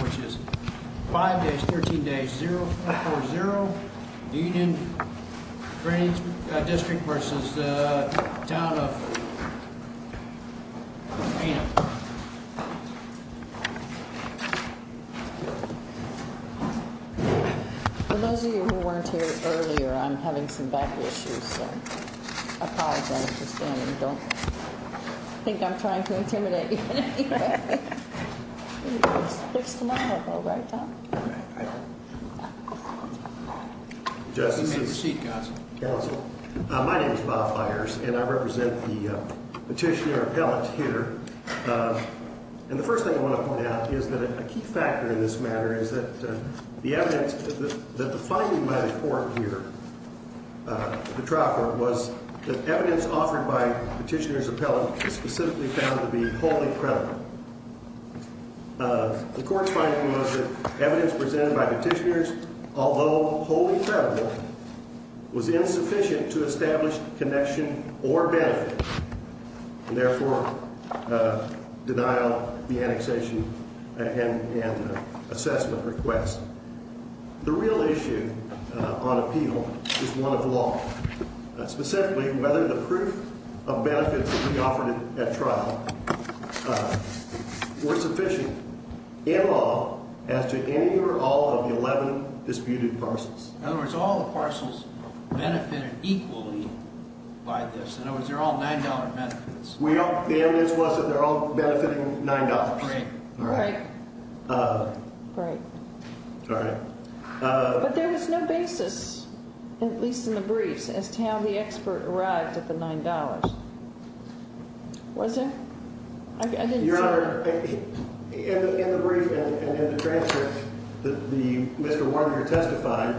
Which is 5 days, 13 days, 0-4-0, Union Drainage District vs. Town of Pana. For those of you who weren't here earlier, I'm having some back issues, so I apologize for standing. I don't think I'm trying to intimidate you in any way. My name is Bob Fires, and I represent the Petitioner Appellate here. And the first thing I want to point out is that a key factor in this matter is that the evidence, that the finding by the Court here, the trial court, was that evidence offered by Petitioner's Appellate was specifically found to be wholly credible. The Court's finding was that evidence presented by Petitioner's, although wholly credible, was insufficient to establish connection or benefit. And therefore, denial of the annexation and assessment request. The real issue on appeal is one of law. Specifically, whether the proof of benefits that we offered at trial were sufficient in law as to any or all of the 11 disputed parcels. In other words, all the parcels benefited equally by this. In other words, they're all $9 benefits. The evidence was that they're all benefiting $9. All right. All right. But there was no basis, at least in the briefs, as to how the expert arrived at the $9. Was there? Your Honor, in the brief and in the transcript, Mr. Warner testified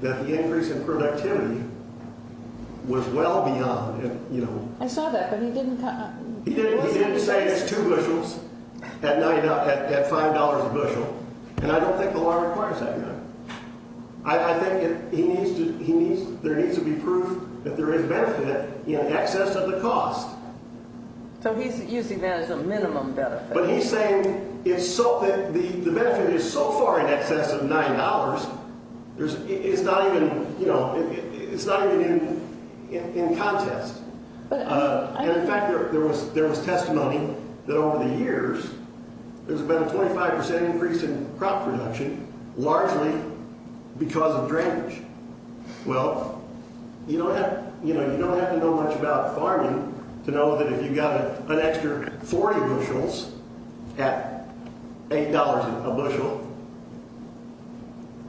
that the increase in productivity was well beyond, you know. I saw that, but he didn't. He didn't say it's two bushels at $5 a bushel. And I don't think the law requires that, Your Honor. I think there needs to be proof that there is benefit in excess of the cost. So he's using that as a minimum benefit. But he's saying the benefit is so far in excess of $9, it's not even, you know, it's not even in context. And, in fact, there was testimony that over the years there's been a 25 percent increase in crop production, largely because of drainage. Well, you don't have to know much about farming to know that if you've got an extra 40 bushels at $8 a bushel,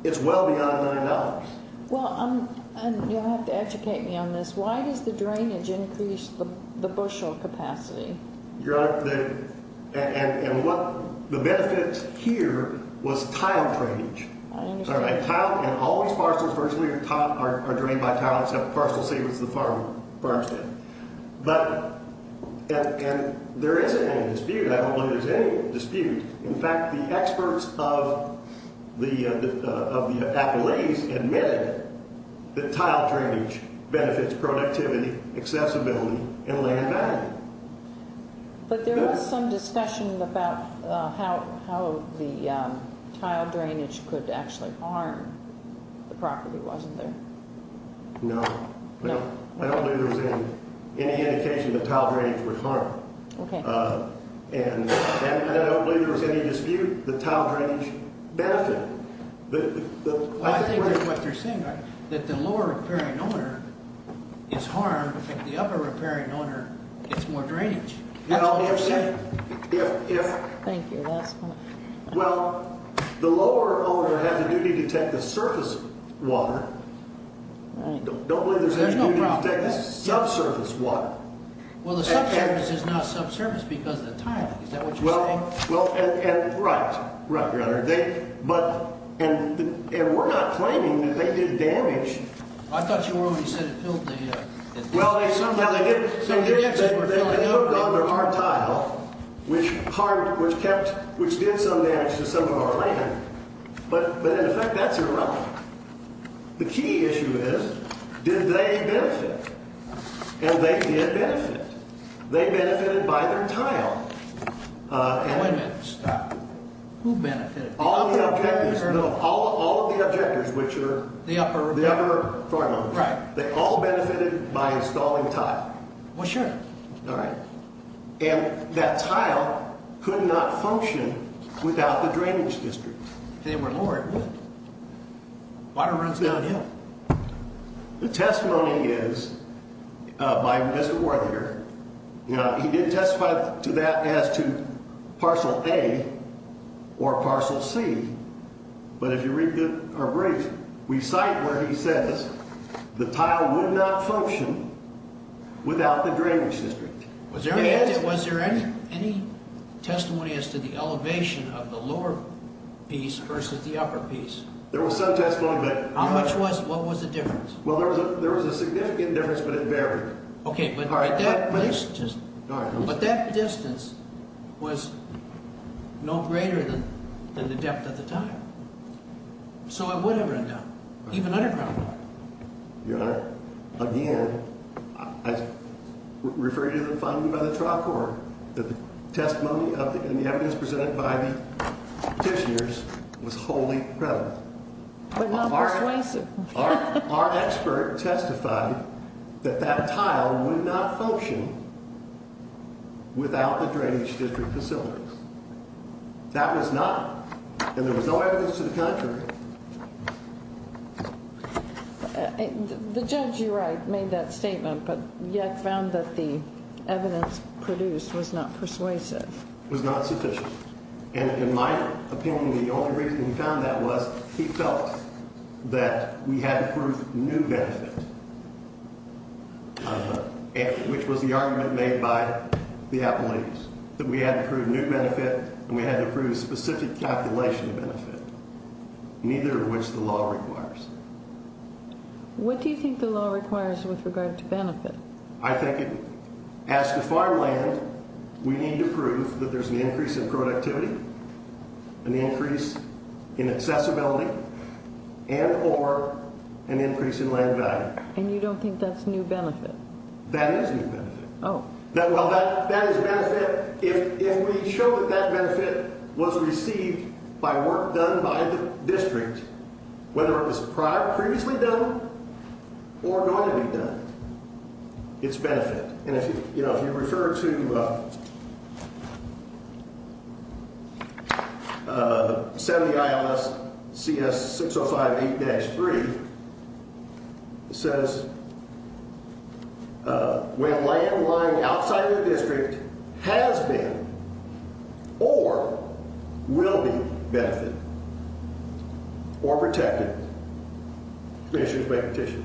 it's well beyond $9. Well, you'll have to educate me on this. Why does the drainage increase the bushel capacity? Your Honor, and what the benefit here was tile drainage. I understand. And all these parcels virtually are drained by tile, except parcels saved to the farmstead. But there isn't any dispute. I don't believe there's any dispute. In fact, the experts of the Appalachians admitted that tile drainage benefits productivity, accessibility, and land value. But there was some discussion about how the tile drainage could actually harm the property, wasn't there? No. No. I don't believe there was any indication that tile drainage would harm. Okay. And I don't believe there was any dispute that tile drainage benefited. I think that what they're saying is that the lower repairing owner is harmed, and the upper repairing owner gets more drainage. That's what they're saying. Thank you. Well, the lower owner has a duty to take the surface water. I don't believe there's any duty to take the subsurface water. Well, the subsurface is not subsurface because of the tiling. Is that what you're saying? Well, and right. Right, Your Honor. And we're not claiming that they did damage. I thought you were when you said it filled the ____. Well, somehow they did. So your answer is we're filling everything. They moved on to our tile, which did some damage to some of our land. But in effect, that's irrelevant. The key issue is, did they benefit? And they did benefit. They benefited by their tile. Now, wait a minute. Stop. Who benefited? All the objectors. No, all of the objectors, which are the upper farm owners. Right. They all benefited by installing tile. Well, sure. All right. And that tile could not function without the drainage district. If they were lower, it would. Water runs downhill. The testimony is by Mr. Worthinger. Now, he did testify to that as to parcel A or parcel C. But if you read our brief, we cite where he says the tile would not function without the drainage district. Was there any testimony as to the elevation of the lower piece versus the upper piece? There was some testimony. How much was it? What was the difference? Well, there was a significant difference, but it varied. Okay. But that distance was no greater than the depth of the tile. So it would have run down, even underground. Again, I refer you to the finding by the trial court that the testimony and the evidence presented by the petitioners was wholly prevalent. But not persuasive. Our expert testified that that tile would not function without the drainage district facilities. That was not, and there was no evidence to the contrary. The judge, you're right, made that statement, but yet found that the evidence produced was not persuasive. It was not sufficient. In my opinion, the only reason he found that was he felt that we had to prove new benefit, which was the argument made by the appellees, that we had to prove new benefit and we had to prove specific calculation benefit, neither of which the law requires. What do you think the law requires with regard to benefit? I think as to farmland, we need to prove that there's an increase in productivity, an increase in accessibility, and or an increase in land value. And you don't think that's new benefit? That is new benefit. Oh. Well, that is benefit. If we show that that benefit was received by work done by the district, whether it was previously done or going to be done, it's benefit. And, you know, if you refer to 70 ILS CS 6058-3, it says when land lying outside of the district has been or will be benefited or protected, commissioners make a petition,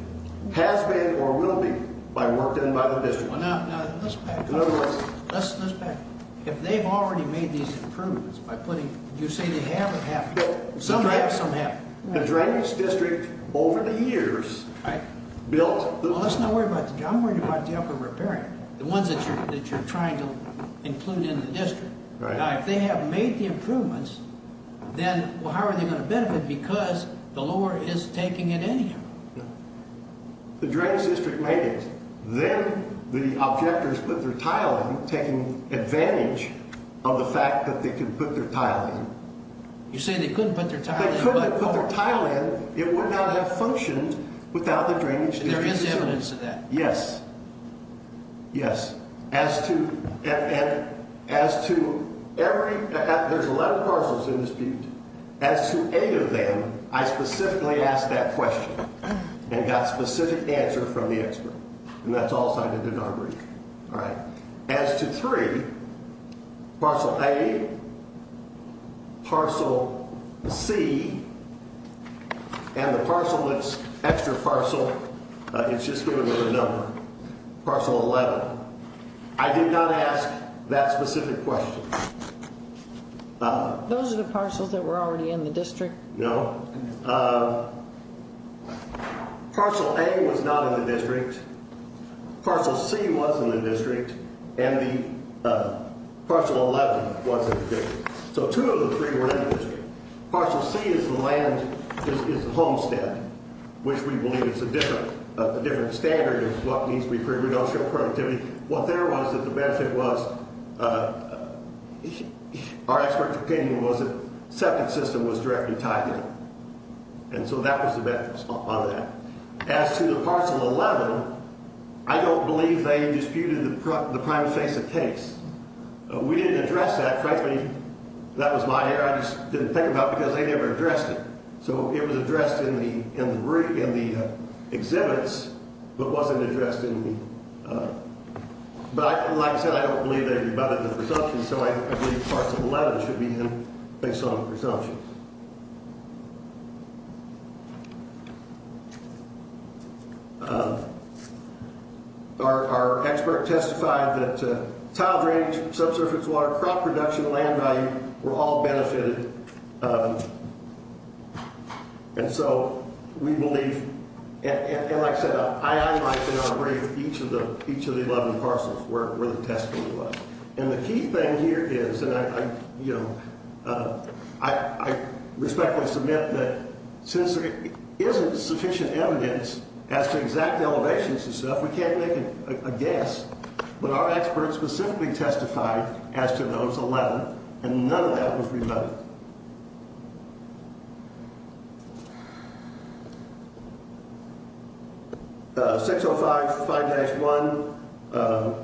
has been or will be by work done by the district. Well, now, let's back up a little. Let's back up. If they've already made these improvements by putting, did you say they have or have not? Some have, some haven't. The drainage district over the years built. Well, let's not worry about that. I'm worried about the upper repairing, the ones that you're trying to include in the district. Now, if they have made the improvements, then how are they going to benefit? Because the law is taking it anyhow. The drainage district made it. Then the objectors put their tile in, taking advantage of the fact that they could put their tile in. You say they couldn't put their tile in. They couldn't put their tile in. It would not have functioned without the drainage district's assistance. There is evidence of that. Yes. Yes. As to every, there's a lot of parcels in this building. As to eight of them, I specifically asked that question and got a specific answer from the expert. And that's all cited in our brief. All right. As to three, parcel A, parcel C, and the parcel that's extra parcel, it's just given with a number, parcel 11, I did not ask that specific question. Those are the parcels that were already in the district? No. Parcel A was not in the district. Parcel C was in the district. And the parcel 11 was in the district. So two of the three were in the district. Parcel C is the land, is the homestead, which we believe is a different standard of what needs to be figured. We don't show productivity. What there was that the benefit was, our expert opinion was that septic system was directly tied to it. And so that was the benefit on that. As to the parcel 11, I don't believe they disputed the prime face of case. We didn't address that. Frankly, that was my error. I just didn't think about it because they never addressed it. So it was addressed in the exhibits but wasn't addressed in the, but like I said, I don't believe they rebutted the presumption, so I believe parcel 11 should be in based on the presumption. Our expert testified that tile drainage, subsurface water, crop production, land value were all benefited. And so we believe, and like I said, I'm not going to break each of the 11 parcels where the testing was. And the key thing here is, and I respectfully submit that since there isn't sufficient evidence as to exact elevations and stuff, we can't make a guess. But our experts specifically testified as to those 11 and none of that was rebutted. 605.5-1,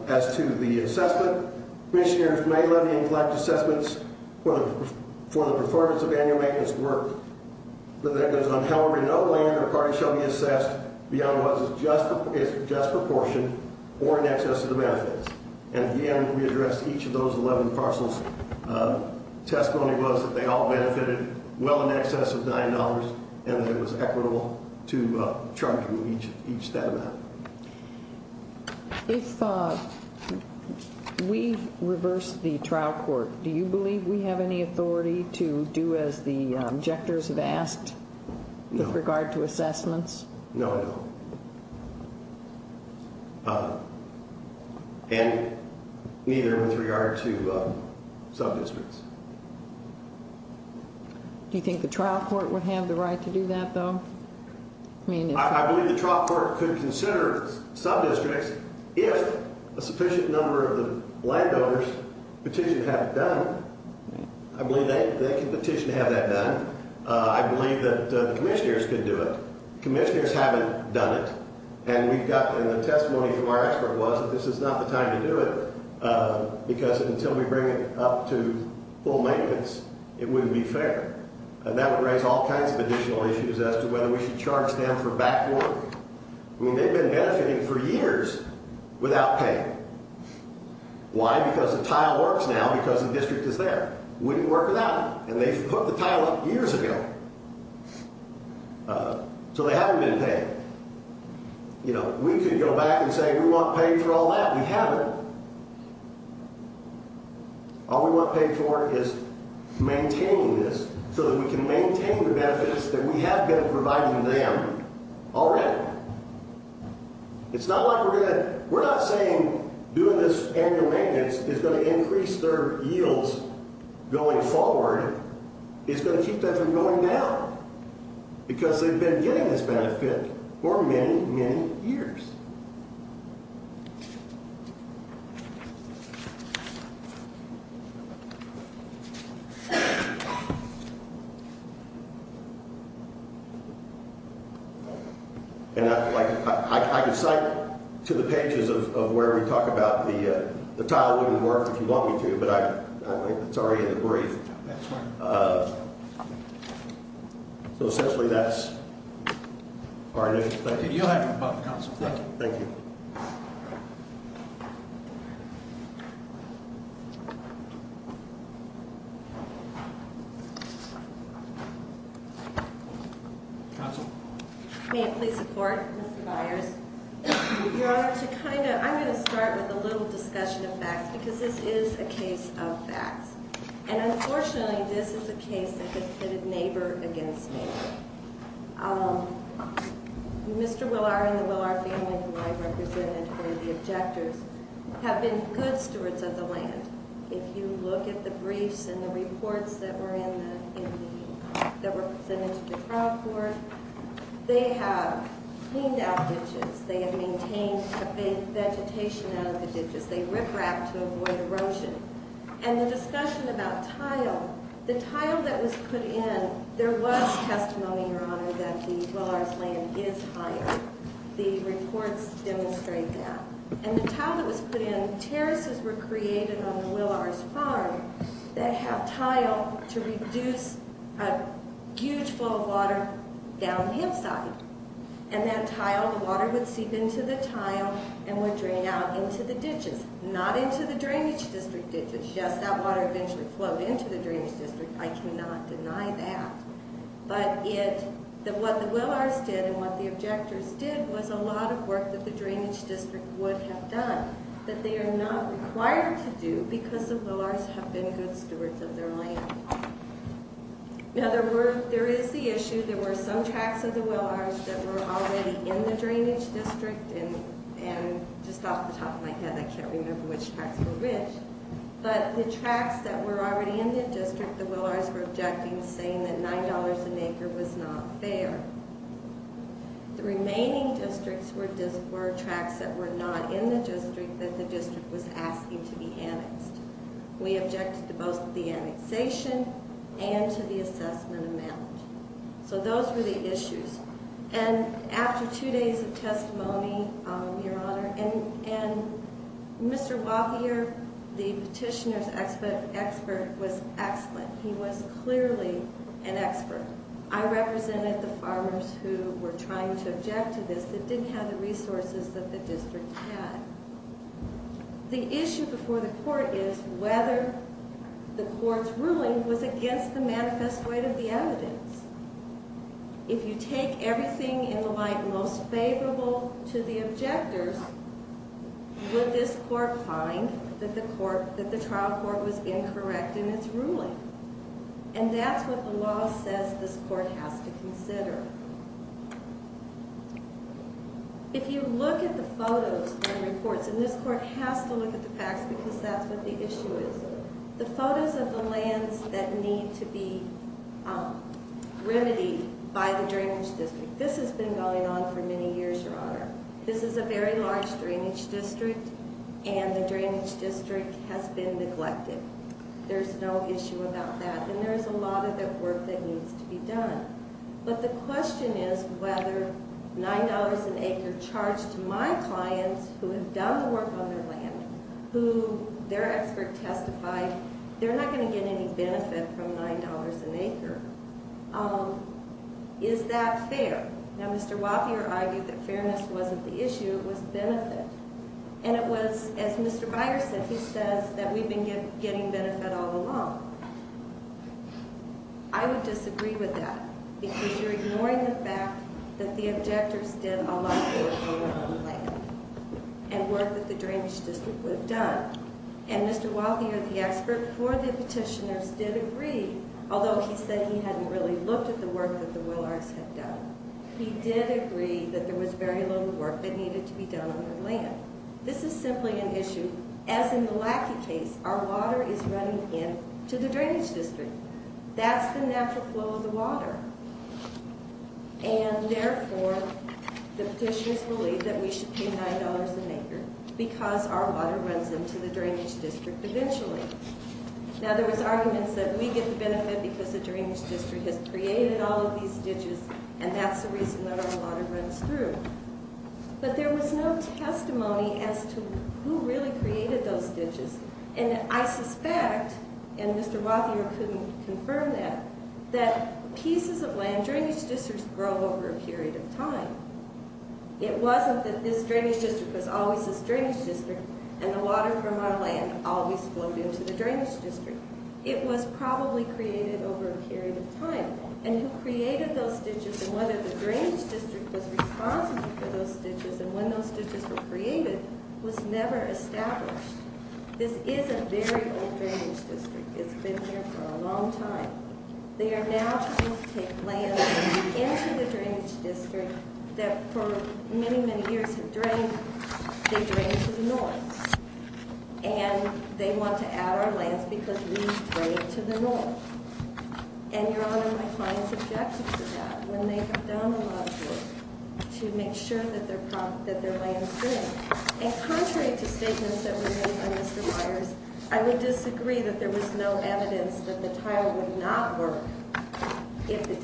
as to the assessment, commissioners may levy and collect assessments for the performance of annual maintenance work, but that goes on. However, no land or property shall be assessed beyond what is just proportion or in excess of the benefits. And again, we addressed each of those 11 parcels. Testimony was that they all benefited well in excess of $9 and that it was equitable to charge them each that amount. If we reverse the trial court, do you believe we have any authority to do as the objectors have asked with regard to assessments? No, I don't. And neither with regard to sub-districts. Do you think the trial court would have the right to do that, though? I believe the trial court could consider sub-districts if a sufficient number of the landowners petitioned to have it done. I believe they can petition to have that done. I believe that the commissioners could do it. Commissioners haven't done it. And the testimony from our expert was that this is not the time to do it because until we bring it up to full maintenance, it wouldn't be fair. And that would raise all kinds of additional issues as to whether we should charge them for back work. I mean, they've been benefiting for years without pay. Why? Because the tile works now because the district is there. It wouldn't work without it. And they put the tile up years ago. So they haven't been paid. You know, we could go back and say we want paid for all that. We haven't. All we want paid for is maintaining this so that we can maintain the benefits that we have been providing them already. It's not like we're going to – we're not saying doing this annual maintenance is going to increase their yields going forward. It's going to keep them from going down because they've been getting this benefit for many, many years. And I can cite to the pages of where we talk about the tile wouldn't work if you want me to, but it's already in the brief. So essentially, that's all I have to say. You'll have your buck, Counsel. Thank you. Thank you. Counsel? May it please the Court? Mr. Byers. Your Honor, to kind of – I'm going to start with a little discussion of facts because this is a case of facts. And unfortunately, this is a case that has pitted neighbor against neighbor. Mr. Willard and the Willard family, who I represented for the objectors, have been good stewards of the land. If you look at the briefs and the reports that were in the – that were presented to the trial court, they have cleaned out ditches. They have maintained the vegetation out of the ditches. They rip-rapped to avoid erosion. And the discussion about tile, the tile that was put in, there was testimony, Your Honor, that the Willard's land is higher. The reports demonstrate that. And the tile that was put in, terraces were created on the Willard's farm that have tile to reduce a huge flow of water down the hip side. And that tile, the water would seep into the tile and would drain out into the ditches, not into the drainage district ditches. Yes, that water eventually flowed into the drainage district. I cannot deny that. But what the Willards did and what the objectors did was a lot of work that the drainage district would have done that they are not required to do because the Willards have been good stewards of their land. Now, there is the issue. There were some tracts of the Willards that were already in the drainage district and just off the top of my head, I can't remember which tracts were which. But the tracts that were already in the district, the Willards were objecting, saying that $9 an acre was not fair. The remaining districts were tracts that were not in the district that the district was asking to be annexed. We objected to both the annexation and to the assessment amount. So those were the issues. And after 2 days of testimony, Your Honor, and Mr. Wachier, the petitioner's expert, was excellent. He was clearly an expert. I represented the farmers who were trying to object to this that didn't have the resources that the district had. The issue before the court is whether the court's ruling was against the manifest weight of the evidence. If you take everything in the light most favorable to the objectors, would this court find that the trial court was incorrect in its ruling? And that's what the law says this court has to consider. If you look at the photos and reports, and this court has to look at the facts because that's what the issue is, the photos of the lands that need to be remedied by the drainage district, this has been going on for many years, Your Honor. This is a very large drainage district, and the drainage district has been neglected. There's no issue about that. And there's a lot of that work that needs to be done. But the question is whether $9 an acre charged to my clients, who have done the work on their land, who their expert testified they're not going to get any benefit from $9 an acre. Is that fair? Now, Mr. Wapier argued that fairness wasn't the issue. It was benefit. And it was, as Mr. Byer said, he says that we've been getting benefit all along. I would disagree with that because you're ignoring the fact that the objectors did a lot of work on their own land and work that the drainage district would have done. And Mr. Wapier, the expert for the petitioners, did agree, although he said he hadn't really looked at the work that the Willards had done. He did agree that there was very little work that needed to be done on their land. This is simply an issue. As in the Lackey case, our water is running into the drainage district. That's the natural flow of the water. And therefore, the petitioners believe that we should pay $9 an acre because our water runs into the drainage district eventually. Now, there was arguments that we get the benefit because the drainage district has created all of these ditches and that's the reason that our water runs through. But there was no testimony as to who really created those ditches. And I suspect, and Mr. Wapier couldn't confirm that, that pieces of land, drainage districts grow over a period of time. It wasn't that this drainage district was always this drainage district and the water from our land always flowed into the drainage district. It was probably created over a period of time. And who created those ditches and whether the drainage district was responsible for those ditches and when those ditches were created was never established. This is a very old drainage district. It's been here for a long time. They are now trying to take land into the drainage district that for many, many years have drained. They drained to the north. And they want to add our lands because we've drained to the north. And, Your Honor, my clients objected to that when they have done a lot of work to make sure that their land's good. And contrary to statements that were made by Mr. Meyers, I would disagree that there was no evidence that the tile would not work if the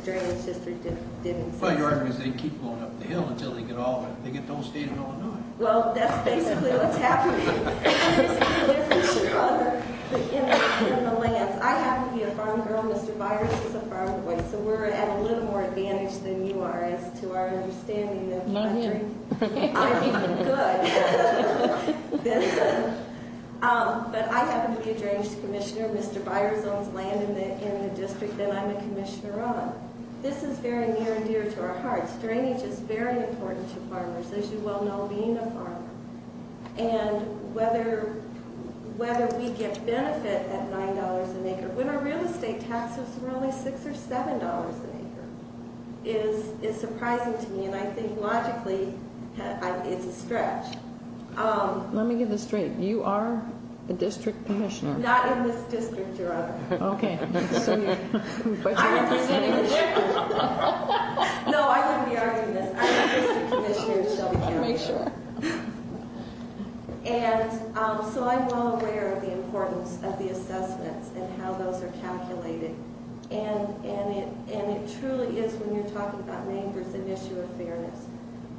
drainage district didn't exist. Well, Your Honor, because they keep going up the hill until they get all of it. They get the whole state of Illinois. Well, that's basically what's happening. There's a struggle in the lands. I happen to be a farm girl. Mr. Meyers is a farm boy. So we're at a little more advantage than you are as to our understanding of I mean, good. But I happen to be a drainage commissioner. Mr. Meyers owns land in the district that I'm a commissioner of. This is very near and dear to our hearts. Drainage is very important to farmers, as you well know, being a farmer. And whether we get benefit at $9 an acre, when our real estate taxes were only $6 or $7 an acre, is surprising to me. And I think, logically, it's a stretch. Let me get this straight. You are a district commissioner. Not in this district, Your Honor. Okay. I'm representing the district. No, I wouldn't be arguing this. I'm a district commissioner in Shelby County. Make sure. And so I'm well aware of the importance of the assessments and how those are calculated. And it truly is, when you're talking about neighbors, an issue of fairness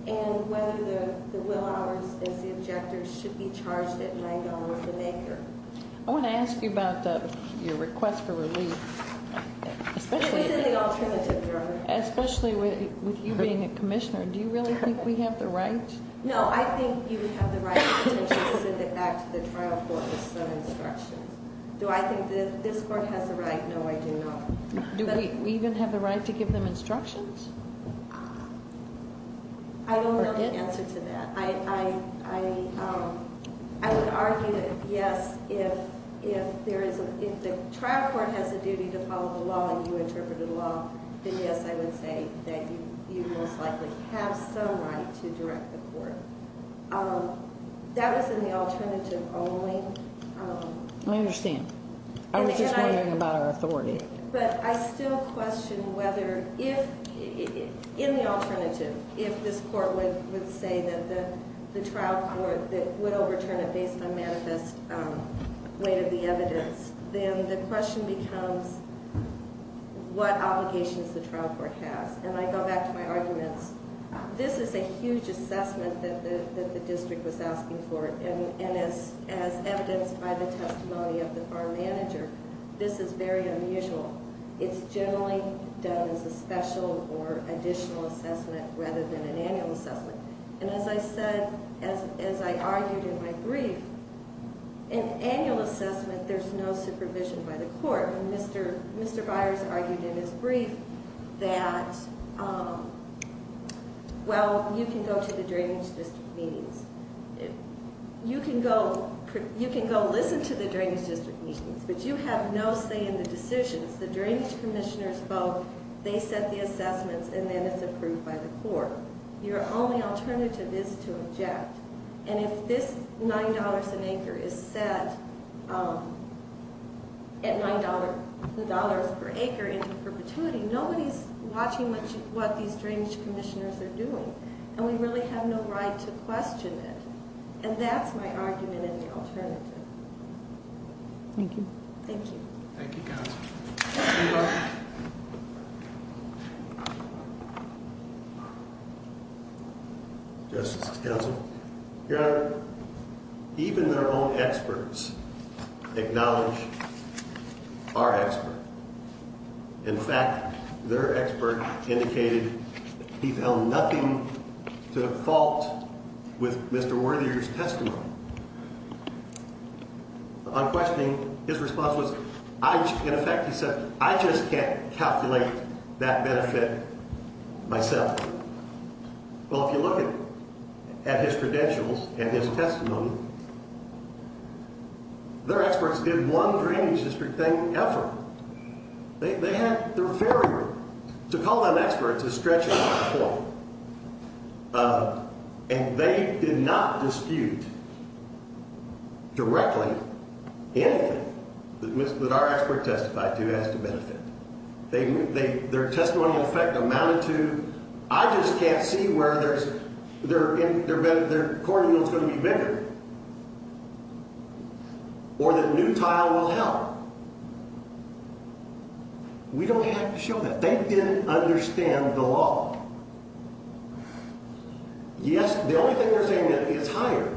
and whether the will hours as the objectors should be charged at $9 an acre. I want to ask you about your request for relief. This is the alternative, Your Honor. Especially with you being a commissioner. Do you really think we have the right? No, I think you have the right to send it back to the trial court with some instructions. Do I think that this court has the right? No, I do not. Do we even have the right to give them instructions? I don't have an answer to that. I would argue that, yes, if the trial court has a duty to follow the law and you interpret the law, then, yes, I would say that you most likely have some right to direct the court. That was in the alternative only. I understand. I was just wondering about our authority. But I still question whether if, in the alternative, if this court would say that the trial court would overturn a baseline manifest weight of the evidence, then the question becomes what obligations the trial court has. And I go back to my arguments. This is a huge assessment that the district was asking for. And as evidenced by the testimony of the bar manager, this is very unusual. It's generally done as a special or additional assessment rather than an annual assessment. And as I said, as I argued in my brief, in annual assessment, there's no supervision by the court. And Mr. Byers argued in his brief that, well, you can go to the drainage district meetings. You can go listen to the drainage district meetings, but you have no say in the decisions. The drainage commissioners vote. They set the assessments, and then it's approved by the court. Your only alternative is to object. And if this $9 an acre is set at $9 per acre into perpetuity, nobody's watching what these drainage commissioners are doing. And we really have no right to question it. And that's my argument in the alternative. Thank you. Thank you. Thank you, counsel. You're welcome. Justices, counsel. Your Honor, even their own experts acknowledge our expert. In fact, their expert indicated he found nothing to fault with Mr. Worthinger's testimony. On questioning, his response was, in effect, he said, I just can't calculate that benefit myself. Well, if you look at his credentials and his testimony, their experts did one drainage district thing ever. They had their variable. To call them experts is stretching my point. And they did not dispute directly anything that our expert testified to as to benefit. Their testimonial effect amounted to, I just can't see where there's – their court rule is going to be bigger. Or that new tile will help. We don't have to show that. They didn't understand the law. Yes, the only thing they're saying is higher.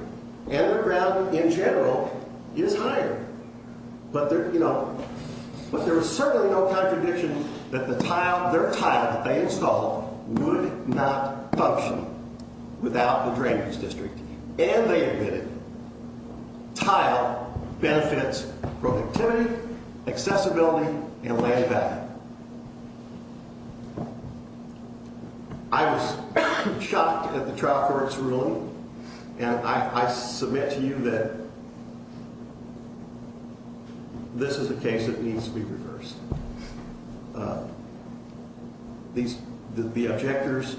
Underground, in general, is higher. But there, you know – but there was certainly no contradiction that the tile – their tile that they installed would not function without the drainage district. And they admitted tile benefits productivity, accessibility, and layback. I was shocked at the trial court's ruling. And I submit to you that this is a case that needs to be reversed. These – the objectors,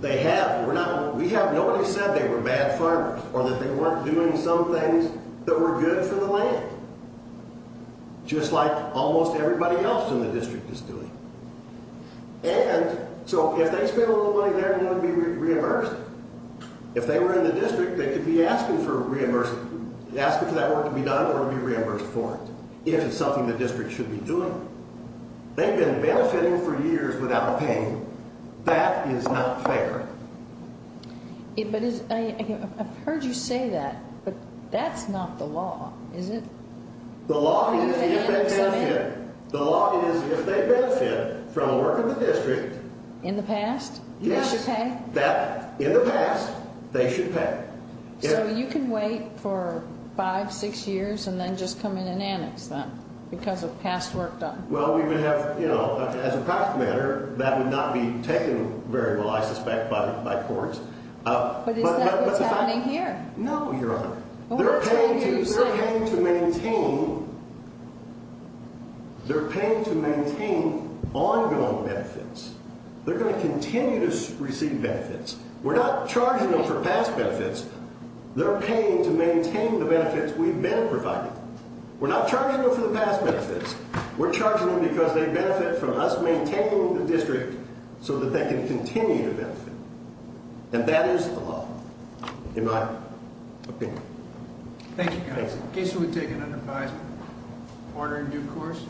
they have – we have – nobody said they were bad farmers or that they weren't doing some things that were good for the land. Just like almost everybody else in the district is doing. And so if they spent a little money there, then it would be reimbursed. If they were in the district, they could be asking for reimbursement – asking for that work to be done or be reimbursed for it. If it's something the district should be doing. They've been benefiting for years without paying. That is not fair. But is – I've heard you say that. But that's not the law, is it? The law is if they benefit. The law is if they benefit from the work of the district. In the past? Yes. They should pay? In the past, they should pay. So you can wait for five, six years and then just come in and annex them because of past work done? Well, we may have – you know, as a matter of fact, that would not be taken very well, I suspect, by courts. But is that what's happening here? No, Your Honor. They're paying to maintain – they're paying to maintain ongoing benefits. They're going to continue to receive benefits. We're not charging them for past benefits. They're paying to maintain the benefits we've been providing. We're not charging them for the past benefits. We're charging them because they benefit from us maintaining the district so that they can continue to benefit. And that is the law, in my opinion. Thank you, Your Honor. In case you would take an unadvised order in due course.